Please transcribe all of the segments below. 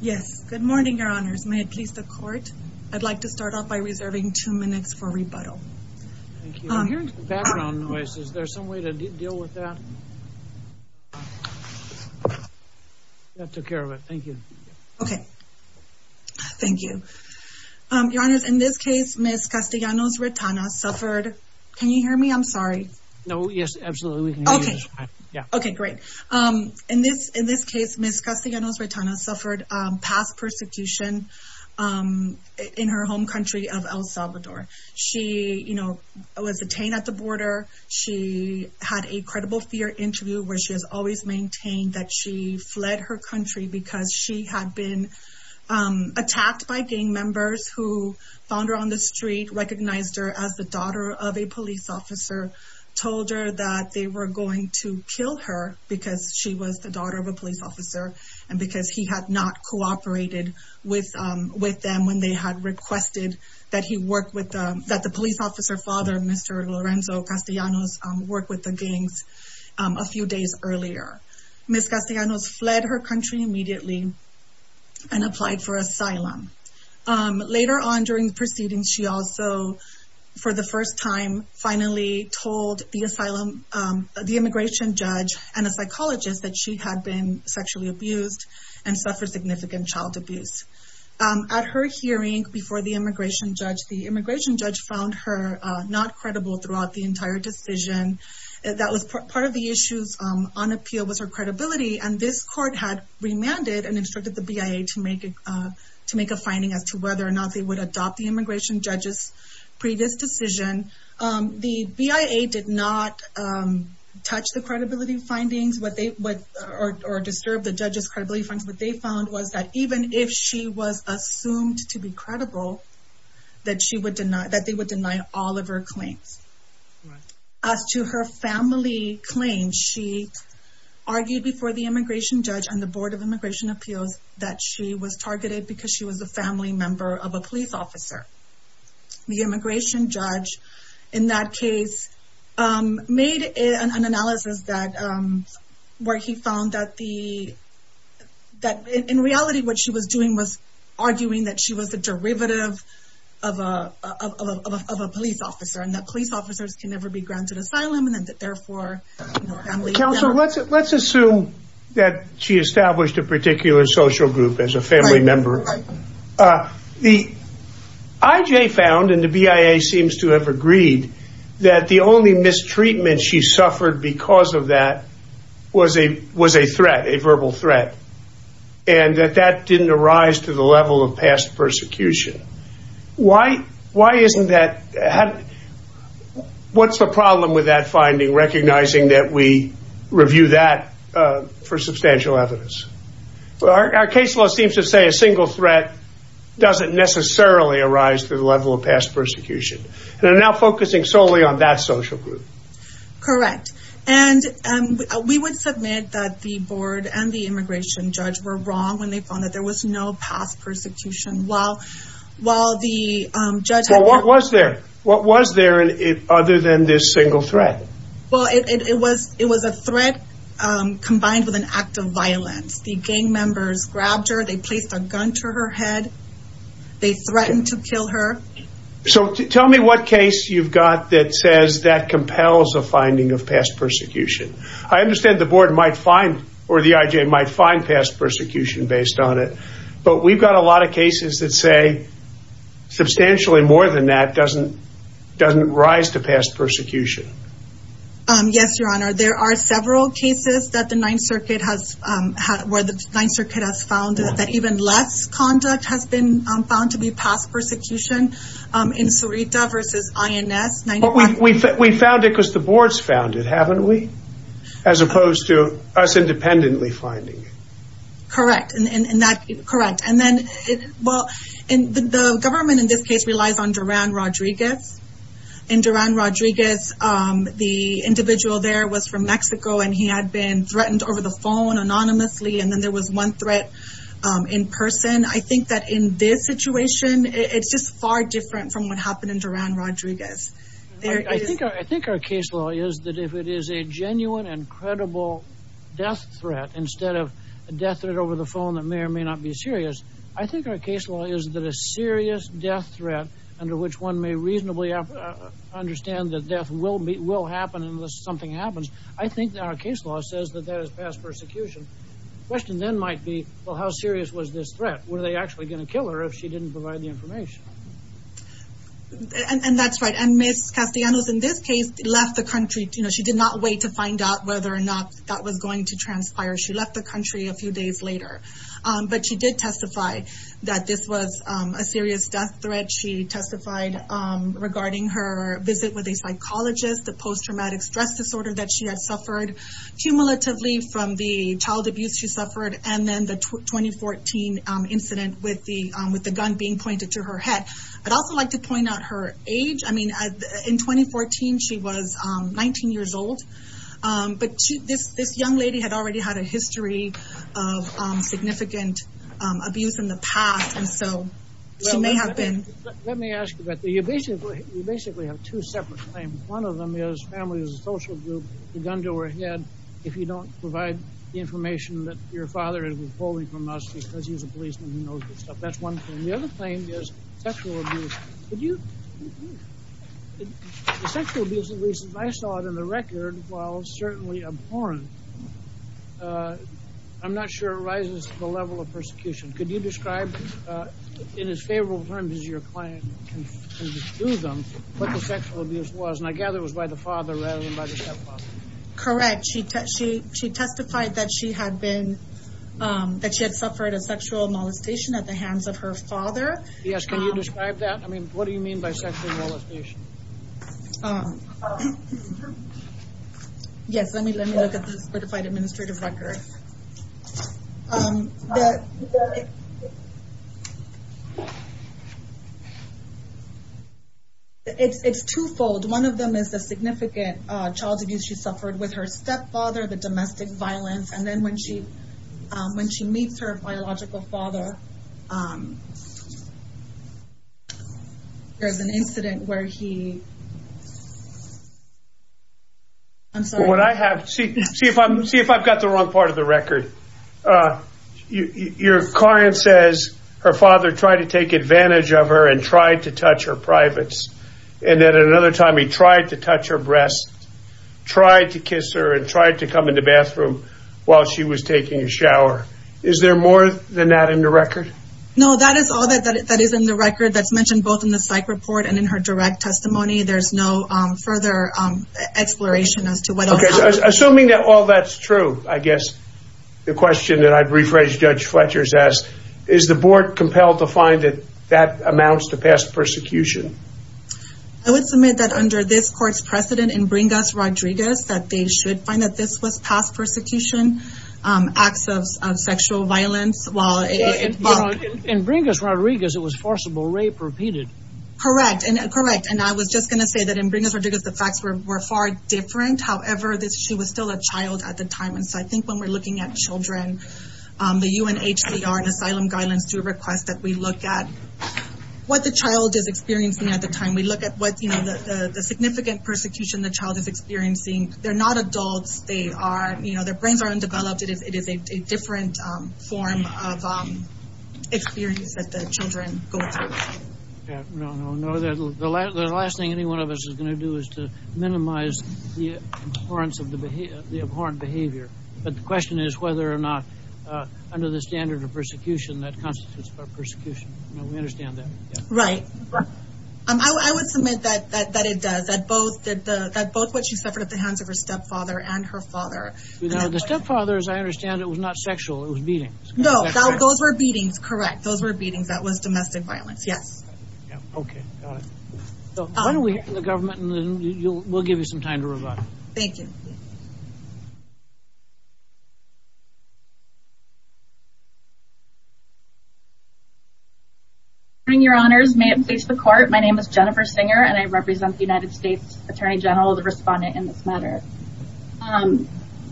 Yes, good morning, Your Honors. May it please the court, I'd like to start off by reserving two minutes for rebuttal. Thank you. I'm hearing some background noise. Is there some way to deal with that? That took care of it. Thank you. Okay. Thank you. Your Honors, in this case, Ms. Castillanos Retana suffered... Can you hear me? I'm sorry. No. Yes, absolutely. We can hear you. Okay, great. In this case, Ms. Castillanos Retana suffered past persecution in her home country of El Salvador. She was detained at the border. She had a credible fear interview where she has always maintained that she fled her country because she had been attacked by gang members who found her on the street, recognized her as the daughter of a police officer, told her that they were going to kill her because she was the daughter of a police officer and because he had not cooperated with them when they had requested that the police officer father, Mr. Lorenzo Castillanos, work with the gangs a few days earlier. Ms. Castillanos fled her country immediately and applied for asylum. Later on during the proceedings, she also, for the first time, finally told the immigration judge and a psychologist that she had been sexually abused and suffered significant child abuse. At her hearing before the immigration judge, the immigration judge found her not credible throughout the entire decision. That was part of the issues on appeal was her credibility and this court had remanded and instructed the BIA to make a finding as to whether or not they would adopt the immigration judge's previous decision. The BIA did not touch the credibility findings or disturb the judge's credibility findings. What they found was that even if she was assumed to be credible, that they would deny all of her claims. As to her family claims, she argued before the immigration judge and the Board of Immigration Appeals that she was targeted because she was a family member of a police officer. The immigration judge, in that case, made an analysis where he found that in reality what she was doing was arguing that she was a derivative of a police officer and that police officers can never be granted asylum and that therefore her family member... Counselor, let's assume that she established a particular social group as a family member. The IJ found, and the BIA seems to have agreed, that the only mistreatment she suffered because of that was a threat, a verbal threat. And that that didn't arise to the level of past persecution. Why isn't that... What's the problem with that finding, recognizing that we review that for substantial evidence? Our case law seems to say a single threat doesn't necessarily arise to the level of past persecution. They're now focusing solely on that social group. Correct. And we would submit that the board and the immigration judge were wrong when they found that there was no past persecution while the judge... Well, what was there? What was there other than this single threat? Well, it was a threat combined with an act of violence. The gang members grabbed her, they placed a gun to her head, they threatened to kill her. So tell me what case you've got that says that compels a finding of past persecution. I understand the board might find or the IJ might find past persecution based on it, but we've got a lot of cases that say substantially more than that doesn't rise to past persecution. Yes, Your Honor. There are several cases that the Ninth Circuit has... where the Ninth Circuit has found that even less conduct has been found to be past persecution in Cerita versus INS. We found it because the boards found it, haven't we? As opposed to us independently finding it. Correct. And that... Correct. And then... Well, the government in this case relies on Duran Rodriguez. In Duran Rodriguez, the individual there was from Mexico and he had been threatened over the phone anonymously and then there was one threat in person. I think that in this situation, it's just far different from what happened in Duran Rodriguez. I think our case law is that if it is a genuine and credible death threat instead of a death threat over the phone that may or may not be serious, I think our case law is that a serious death threat under which one may reasonably understand that death will happen unless something happens, I think that our case law says that that is past persecution. The question then might be, well, how serious was this threat? Were they actually going to kill her if she didn't provide the information? And that's right. And Ms. Castellanos in this case left the country. She did not wait to find out whether or not that was going to transpire. She left the country a few days later. But she did testify that this was a serious death threat. She testified regarding her visit with a psychologist, the post-traumatic stress disorder that she had suffered, cumulatively from the child abuse she suffered, and then the 2014 incident with the gun being pointed to her head. I'd also like to point out her age. In 2014, she was 19 years old. But this young lady had already had a history of significant abuse in the past, and so she may have been... Let me ask you about that. You basically have two separate claims. One of them is family as a social group, the gun to her head, if you don't provide the information that your father is withholding from us because he's a policeman who knows this stuff. That's one claim. The other claim is sexual abuse. Could you... The sexual abuse, at least as I saw it in the record, while certainly abhorrent, I'm not sure rises to the level of persecution. Could you describe in as favorable terms as your client can do them what the sexual abuse was? And I gather it was by the father rather than by the stepfather. Correct. She testified that she had been... that she had suffered a sexual molestation at the hands of her father. Yes, can you describe that? I mean, what do you mean by sexual molestation? Yes, let me look at the certified administrative record. It's twofold. One of them is the significant child abuse she suffered with her stepfather, the domestic violence, and then when she meets her biological father, there's an incident where he... See if I've got the wrong part of the record. Your client says her father tried to take advantage of her and tried to touch her privates, and then another time he tried to touch her breasts, tried to kiss her, and tried to come in the bathroom while she was taking a shower. Is there more than that in the record? No, that is all that is in the record. That's mentioned both in the psych report and in her direct testimony. There's no further exploration as to what else happened. Assuming that all that's true, I guess, the question that I'd rephrase Judge Fletcher's ask, is the board compelled to find that that amounts to past persecution? I would submit that under this court's precedent in Bringas-Rodriguez, that they should find that this was past persecution, acts of sexual violence. In Bringas-Rodriguez, it was forcible rape repeated. Correct, and I was just going to say that in Bringas-Rodriguez, the facts were far different. However, she was still a child at the time, and so I think when we're looking at children, the UNHCR and asylum guidelines do request that we look at what the child is experiencing at the time. We look at the significant persecution the child is experiencing. They're not adults. Their brains are undeveloped. It is a different form of experience that the children go through. The last thing any one of us is going to do is to minimize the abhorrence of the behavior. But the question is whether or not, under the standard of persecution, that constitutes persecution. We understand that. Right. I would submit that it does, that both what she suffered at the hands of her stepfather and her father. The stepfather, as I understand it, was not sexual. It was beatings. No, those were beatings, correct. Those were beatings. That was domestic violence, yes. Okay, got it. Why don't we hear from the government, and then we'll give you some time to respond. Thank you. Good morning, Your Honors. May it please the Court, my name is Jennifer Singer, and I represent the United States Attorney General, the respondent in this matter.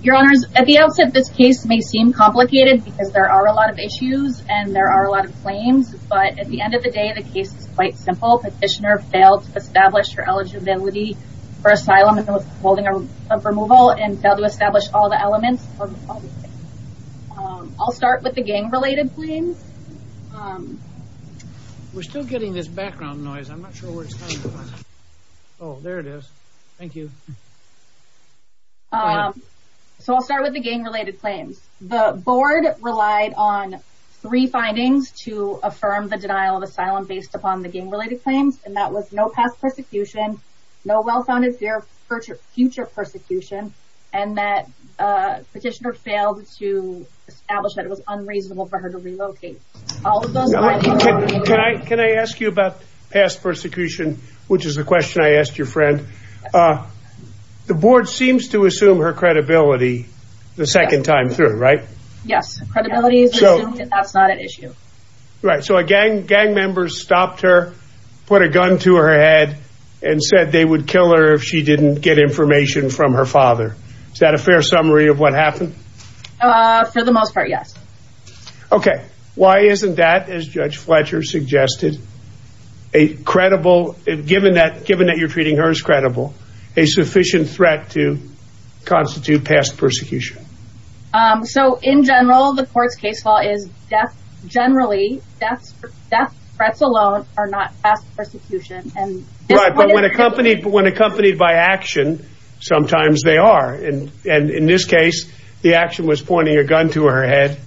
Your Honors, at the outset, this case may seem complicated, because there are a lot of issues, and there are a lot of claims, but at the end of the day, the case is quite simple. Petitioner failed to establish her eligibility for asylum and withholding of removal, and failed to establish all the elements. I'll start with the gang-related claims. We're still getting this background noise. I'm not sure where it's coming from. Oh, there it is. Thank you. So I'll start with the gang-related claims. The Board relied on three findings to affirm the denial of asylum based upon the gang-related claims, and that was no past persecution, no well-founded future persecution, and that Petitioner failed to establish that it was unreasonable for her to relocate. Can I ask you about past persecution, which is a question I asked your friend? The Board seems to assume her credibility the second time through, right? Yes. Credibility is assumed. That's not an issue. Right. So a gang member stopped her, put a gun to her head, and said they would kill her if she didn't get information from her father. Is that a fair summary of what happened? For the most part, yes. Okay. Why isn't that, as Judge Fletcher suggested, a credible, given that you're treating her as credible, a sufficient threat to constitute past persecution? So in general, the court's case law is generally death threats alone are not past persecution. Right. But when accompanied by action, sometimes they are. And in this case, the action was pointing a gun to her head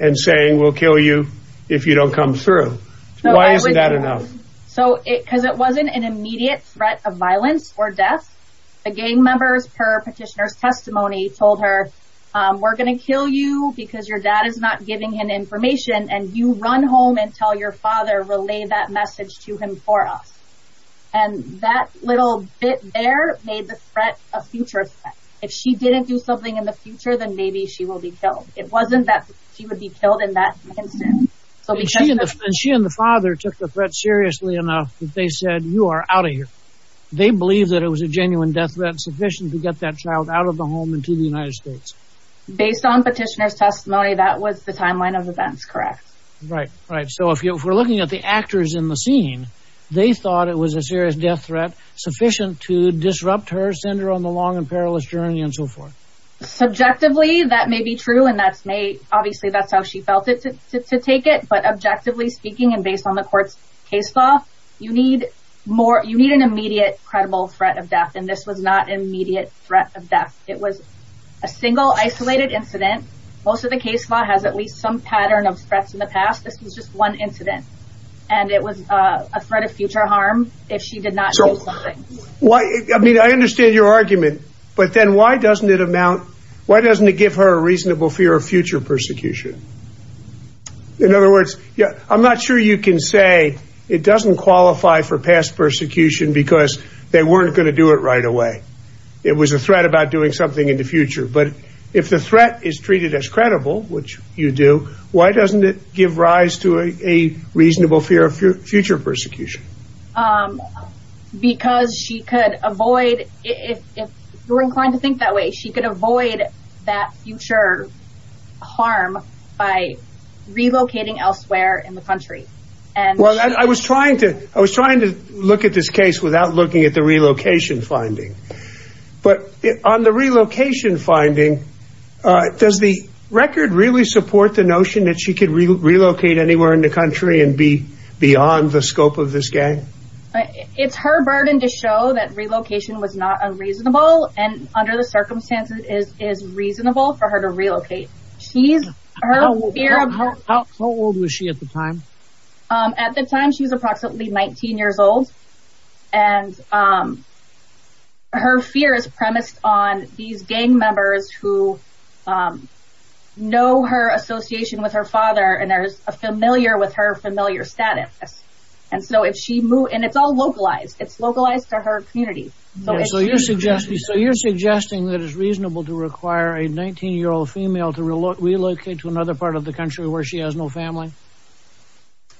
and saying, we'll kill you if you don't come through. Why isn't that enough? Because it wasn't an immediate threat of violence or death. The gang members, per petitioner's testimony, told her, we're going to kill you because your dad is not giving him information, and you run home and tell your father, relay that message to him for us. And that little bit there made the threat a future threat. If she didn't do something in the future, then maybe she will be killed. It wasn't that she would be killed in that instant. And she and the father took the threat seriously enough that they said, you are out of here. They believed that it was a genuine death threat sufficient to get that child out of the home and to the United States. Based on petitioner's testimony, that was the timeline of events, correct? Right, right. So if we're looking at the actors in the scene, they thought it was a serious death threat sufficient to disrupt her, send her on the long and perilous journey, and so forth. Subjectively, that may be true. And obviously that's how she felt to take it. But objectively speaking and based on the court's case law, you need an immediate credible threat of death. And this was not an immediate threat of death. It was a single isolated incident. Most of the case law has at least some pattern of threats in the past. This was just one incident. And it was a threat of future harm if she did not do something. I mean, I understand your argument. But then why doesn't it amount, why doesn't it give her a reasonable fear of future persecution? In other words, I'm not sure you can say it doesn't qualify for past persecution because they weren't going to do it right away. It was a threat about doing something in the future. But if the threat is treated as credible, which you do, why doesn't it give rise to a reasonable fear of future persecution? Because she could avoid, if you're inclined to think that way, she could avoid that future harm by relocating elsewhere in the country. Well, I was trying to look at this case without looking at the relocation finding. But on the relocation finding, does the record really support the notion that she could relocate anywhere in the country and be beyond the scope of this gang? It's her burden to show that relocation was not unreasonable. And under the circumstances, it is reasonable for her to relocate. How old was she at the time? At the time, she was approximately 19 years old. And her fear is premised on these gang members who know her association with her father and are familiar with her familiar status. And it's all localized. It's localized to her community. So you're suggesting that it's reasonable to require a 19-year-old female to relocate to another part of the country where she has no family?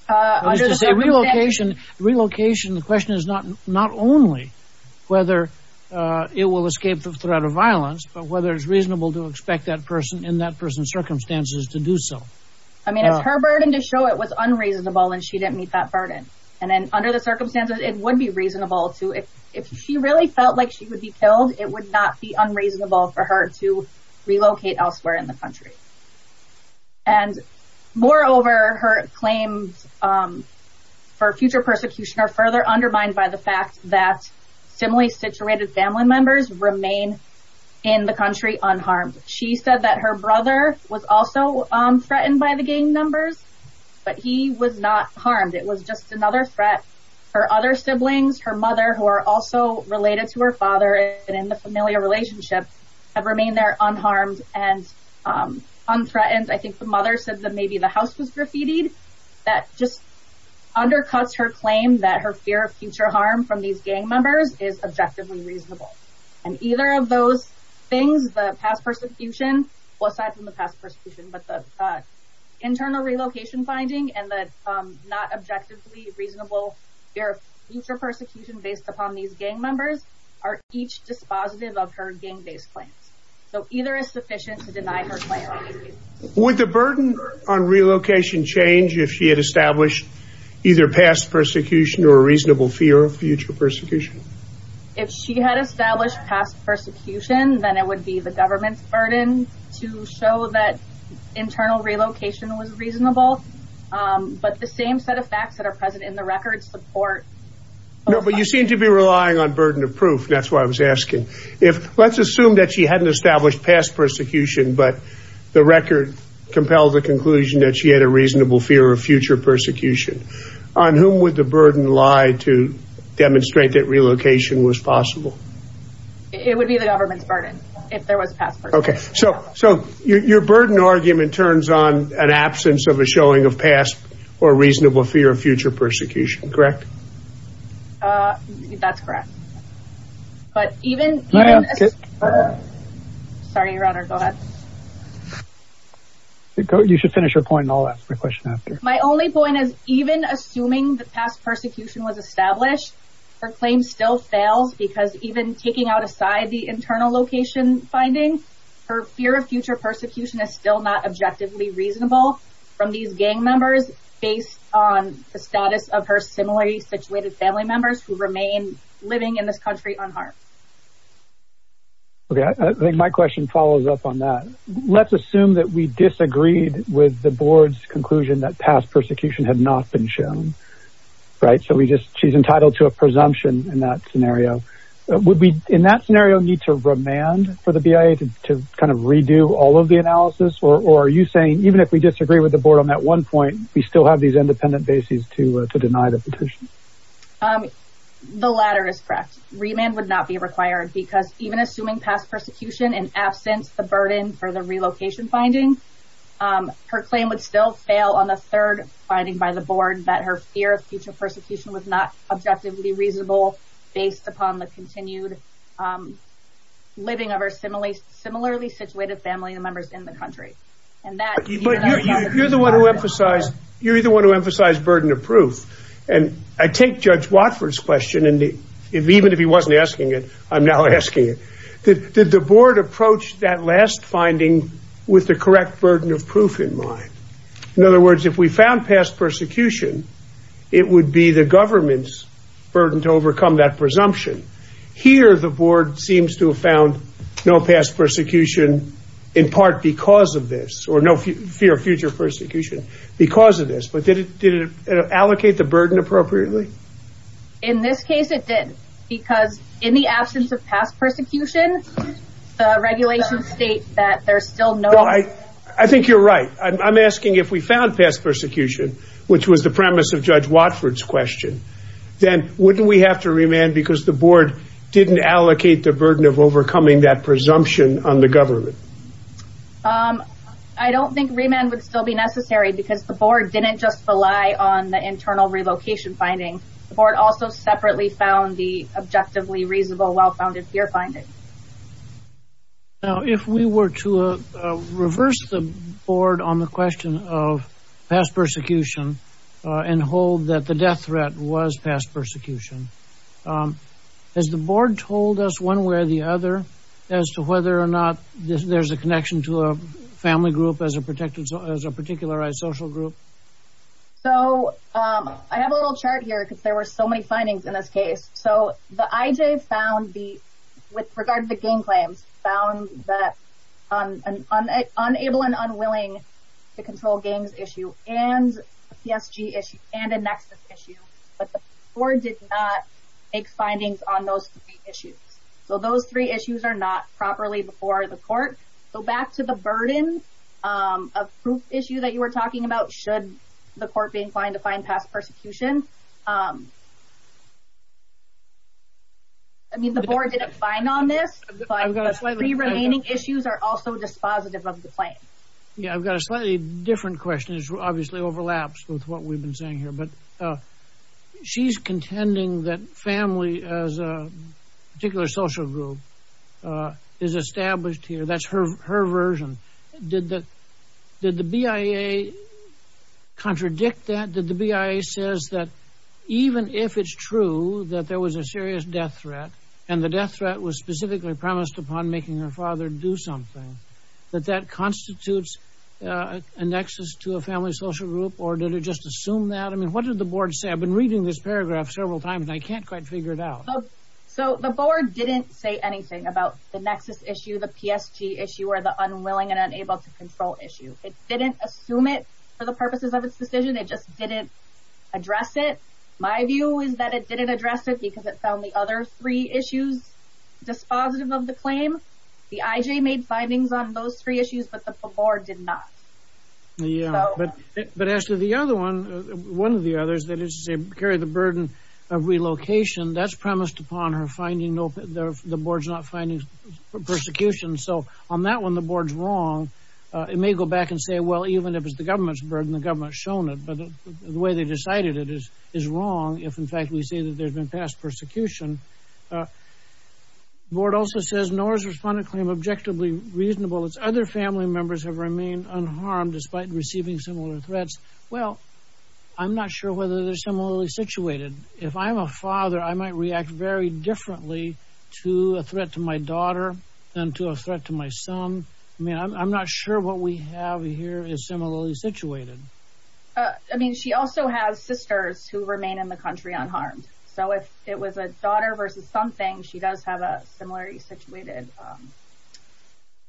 Relocation, the question is not only whether it will escape the threat of violence, but whether it's reasonable to expect that person in that person's circumstances to do so. I mean, it's her burden to show it was unreasonable and she didn't meet that burden. And then under the circumstances, it would be reasonable to, if she really felt like she would be killed, it would not be unreasonable for her to relocate elsewhere in the country. And moreover, her claims for future persecution are further undermined by the fact that similarly situated family members remain in the country unharmed. She said that her brother was also threatened by the gang members, but he was not harmed. It was just another threat. Her other siblings, her mother, who are also related to her father and in the familiar relationship, have remained there unharmed and unthreatened. I think the mother said that maybe the house was graffitied. That just undercuts her claim that her fear of future harm from these gang members is objectively reasonable. And either of those things, the past persecution, well, aside from the past persecution, but the internal relocation finding and the not objectively reasonable fear of future persecution based upon these gang members are each dispositive of her gang-based claims. So either is sufficient to deny her claim. Would the burden on relocation change if she had established either past persecution or a reasonable fear of future persecution? If she had established past persecution, then it would be the government's burden to show that internal relocation was reasonable. But the same set of facts that are present in the record support. No, but you seem to be relying on burden of proof. That's why I was asking. Let's assume that she hadn't established past persecution, but the record compelled the conclusion that she had a reasonable fear of future persecution. On whom would the burden lie to demonstrate that relocation was possible? It would be the government's burden if there was past persecution. Okay, so your burden argument turns on an absence of a showing of past or reasonable fear of future persecution, correct? That's correct. But even... Sorry, Your Honor, go ahead. You should finish your point and I'll ask my question after. My only point is even assuming that past persecution was established, her claim still fails because even taking out aside the internal location finding, her fear of future persecution is still not objectively reasonable from these gang members based on the status of her similarly situated family members who remain living in this country unharmed. Okay, I think my question follows up on that. Let's assume that we disagreed with the board's conclusion that past persecution had not been shown, right? So she's entitled to a presumption in that scenario. Would we in that scenario need to remand for the BIA to kind of redo all of the analysis? Or are you saying even if we disagree with the board on that one point, we still have these independent bases to deny the petition? The latter is correct. Remand would not be required because even assuming past persecution in absence of the burden for the relocation finding, her claim would still fail on the third finding by the board that her fear of future persecution was not objectively reasonable based upon the continued living of her similarly situated family members in the country. You're the one who emphasized burden of proof. And I take Judge Watford's question, and even if he wasn't asking it, I'm now asking it. Did the board approach that last finding with the correct burden of proof in mind? In other words, if we found past persecution, it would be the government's burden to overcome that presumption. Here the board seems to have found no past persecution in part because of this, or no fear of future persecution because of this. But did it allocate the burden appropriately? In this case it didn't because in the absence of past persecution, the regulations state that there's still no... I think you're right. I'm asking if we found past persecution, which was the premise of Judge Watford's question, then wouldn't we have to remand because the board didn't allocate the burden of overcoming that presumption on the government? I don't think remand would still be necessary because the board didn't just rely on the internal relocation finding. The board also separately found the objectively reasonable well-founded fear finding. Now, if we were to reverse the board on the question of past persecution and hold that the death threat was past persecution, has the board told us one way or the other as to whether or not there's a connection to a family group as a particularized social group? So I have a little chart here because there were so many findings in this case. So the IJ found, with regard to the gang claims, found an unable and unwilling to control gangs issue and a PSG issue and a Nexus issue, but the board did not make findings on those three issues. So those three issues are not properly before the court. So back to the burden of proof issue that you were talking about, should the court be inclined to find past persecution? I mean, the board didn't find on this, but the three remaining issues are also dispositive of the claim. Yeah, I've got a slightly different question. It obviously overlaps with what we've been saying here, but she's contending that family as a particular social group is established here. That's her version. Did the BIA contradict that? Did the BIA say that even if it's true that there was a serious death threat and the death threat was specifically premised upon making her father do something, that that constitutes a Nexus to a family social group, or did it just assume that? I mean, what did the board say? I've been reading this paragraph several times, and I can't quite figure it out. So the board didn't say anything about the Nexus issue, the PSG issue, or the unwilling and unable to control issue. It didn't assume it for the purposes of its decision. It just didn't address it. My view is that it didn't address it because it found the other three issues dispositive of the claim. The IJ made findings on those three issues, but the board did not. Yeah, but as to the other one, one of the others, that is to say carry the burden of relocation, that's premised upon the board's not finding persecution. So on that one, the board's wrong. It may go back and say, well, even if it's the government's burden, the government's shown it, but the way they decided it is wrong if, in fact, we say that there's been past persecution. The board also says NORA's respondent claim objectively reasonable. Its other family members have remained unharmed despite receiving similar threats. Well, I'm not sure whether they're similarly situated. If I'm a father, I might react very differently to a threat to my daughter than to a threat to my son. I mean, I'm not sure what we have here is similarly situated. I mean, she also has sisters who remain in the country unharmed. So if it was a daughter versus something, she does have a similarly situated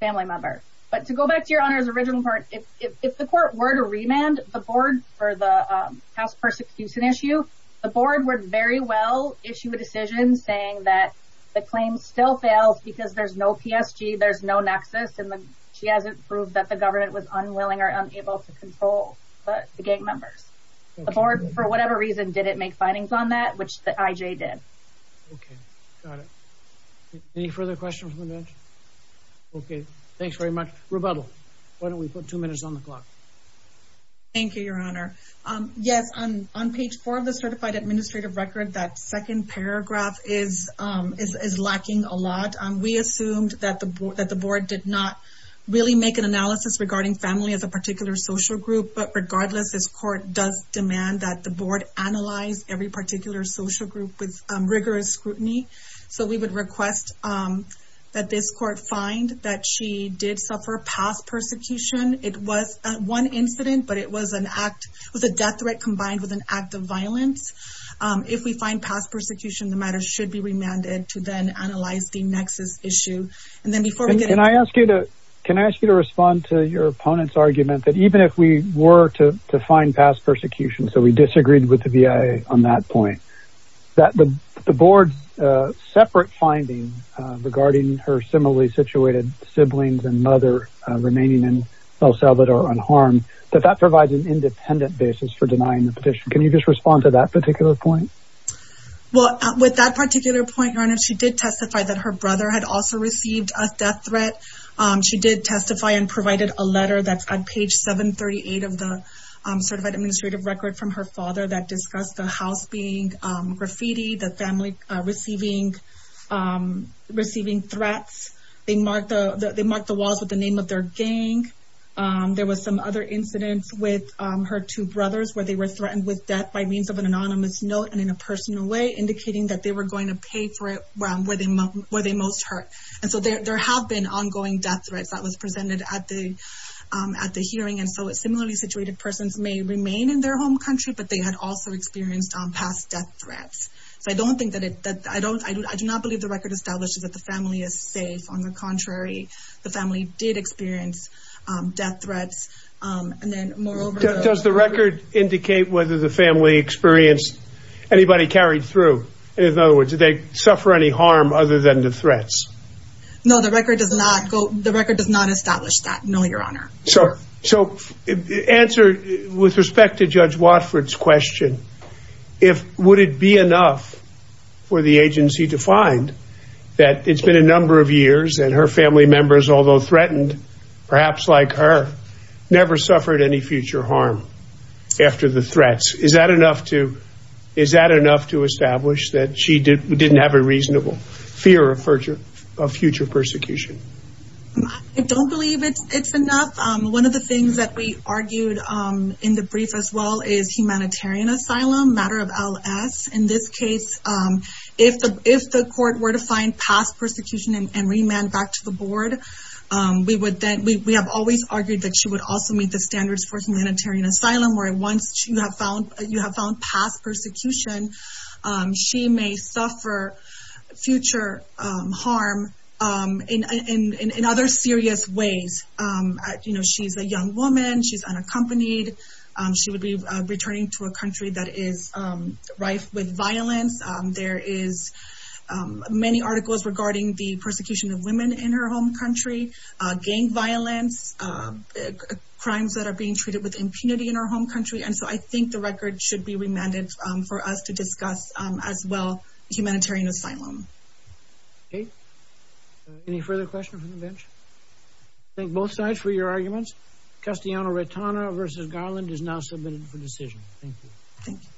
family member. But to go back to your honor's original part, if the court were to remand the board for the past persecution issue, the board would very well issue a decision saying that the claim still fails because there's no PSG, there's no nexus, and she hasn't proved that the government was unwilling or unable to control the gang members. The board, for whatever reason, didn't make findings on that, which the IJ did. Okay. Got it. Any further questions from the bench? Okay. Thanks very much. Rebuttal. Why don't we put two minutes on the clock? Thank you, your honor. Yes, on page four of the certified administrative record, that second paragraph is lacking a lot. We assumed that the board did not really make an analysis regarding family as a particular social group, but regardless, this court does demand that the board analyze every particular social group with rigorous scrutiny. So we would request that this court find that she did suffer past persecution. It was one incident, but it was an act, it was a death threat combined with an act of violence. If we find past persecution, the matter should be remanded to then analyze the nexus issue. Can I ask you to respond to your opponent's argument that even if we were to find past persecution, so we disagreed with the BIA on that point, that the board's separate finding regarding her similarly situated siblings and mother remaining in El Salvador unharmed, that that provides an independent basis for denying the petition. Can you just respond to that particular point? Well, with that particular point, your honor, she did testify that her brother had also received a death threat. She did testify and provided a letter that's on page 738 of the certified administrative record from her father that discussed the house being graffiti, the family receiving threats. They marked the walls with the name of their gang. There was some other incidents with her two brothers where they were threatened with death by means of an anonymous note and in a personal way, indicating that they were going to pay for it where they most hurt. And so there have been ongoing death threats that was presented at the hearing, and so similarly situated persons may remain in their home country, but they had also experienced past death threats. So I do not believe the record establishes that the family is safe on the contrary, the family did experience death threats. Does the record indicate whether the family experienced anybody carried through? In other words, did they suffer any harm other than the threats? No, the record does not go, the record does not establish that. No, your honor. So answer with respect to Judge Watford's question, would it be enough for the agency to find that it's been a number of years and her family members, although threatened, perhaps like her, never suffered any future harm after the threats? Is that enough to establish that she didn't have a reasonable fear of future persecution? I don't believe it's enough. One of the things that we argued in the brief as well is humanitarian asylum, matter of LS. In this case, if the court were to find past persecution and remand back to the board, we have always argued that she would also meet the standards for humanitarian asylum where once you have found past persecution, she may suffer future harm in other serious ways. She's a young woman. She's unaccompanied. She would be returning to a country that is rife with violence. There is many articles regarding the persecution of women in her home country, gang violence, crimes that are being treated with impunity in her home country. I think the record should be remanded for us to discuss as well humanitarian asylum. Okay. Any further questions from the bench? Thank both sides for your arguments. Castellano-Retana v. Garland is now submitted for decision. Thank you. Thank you.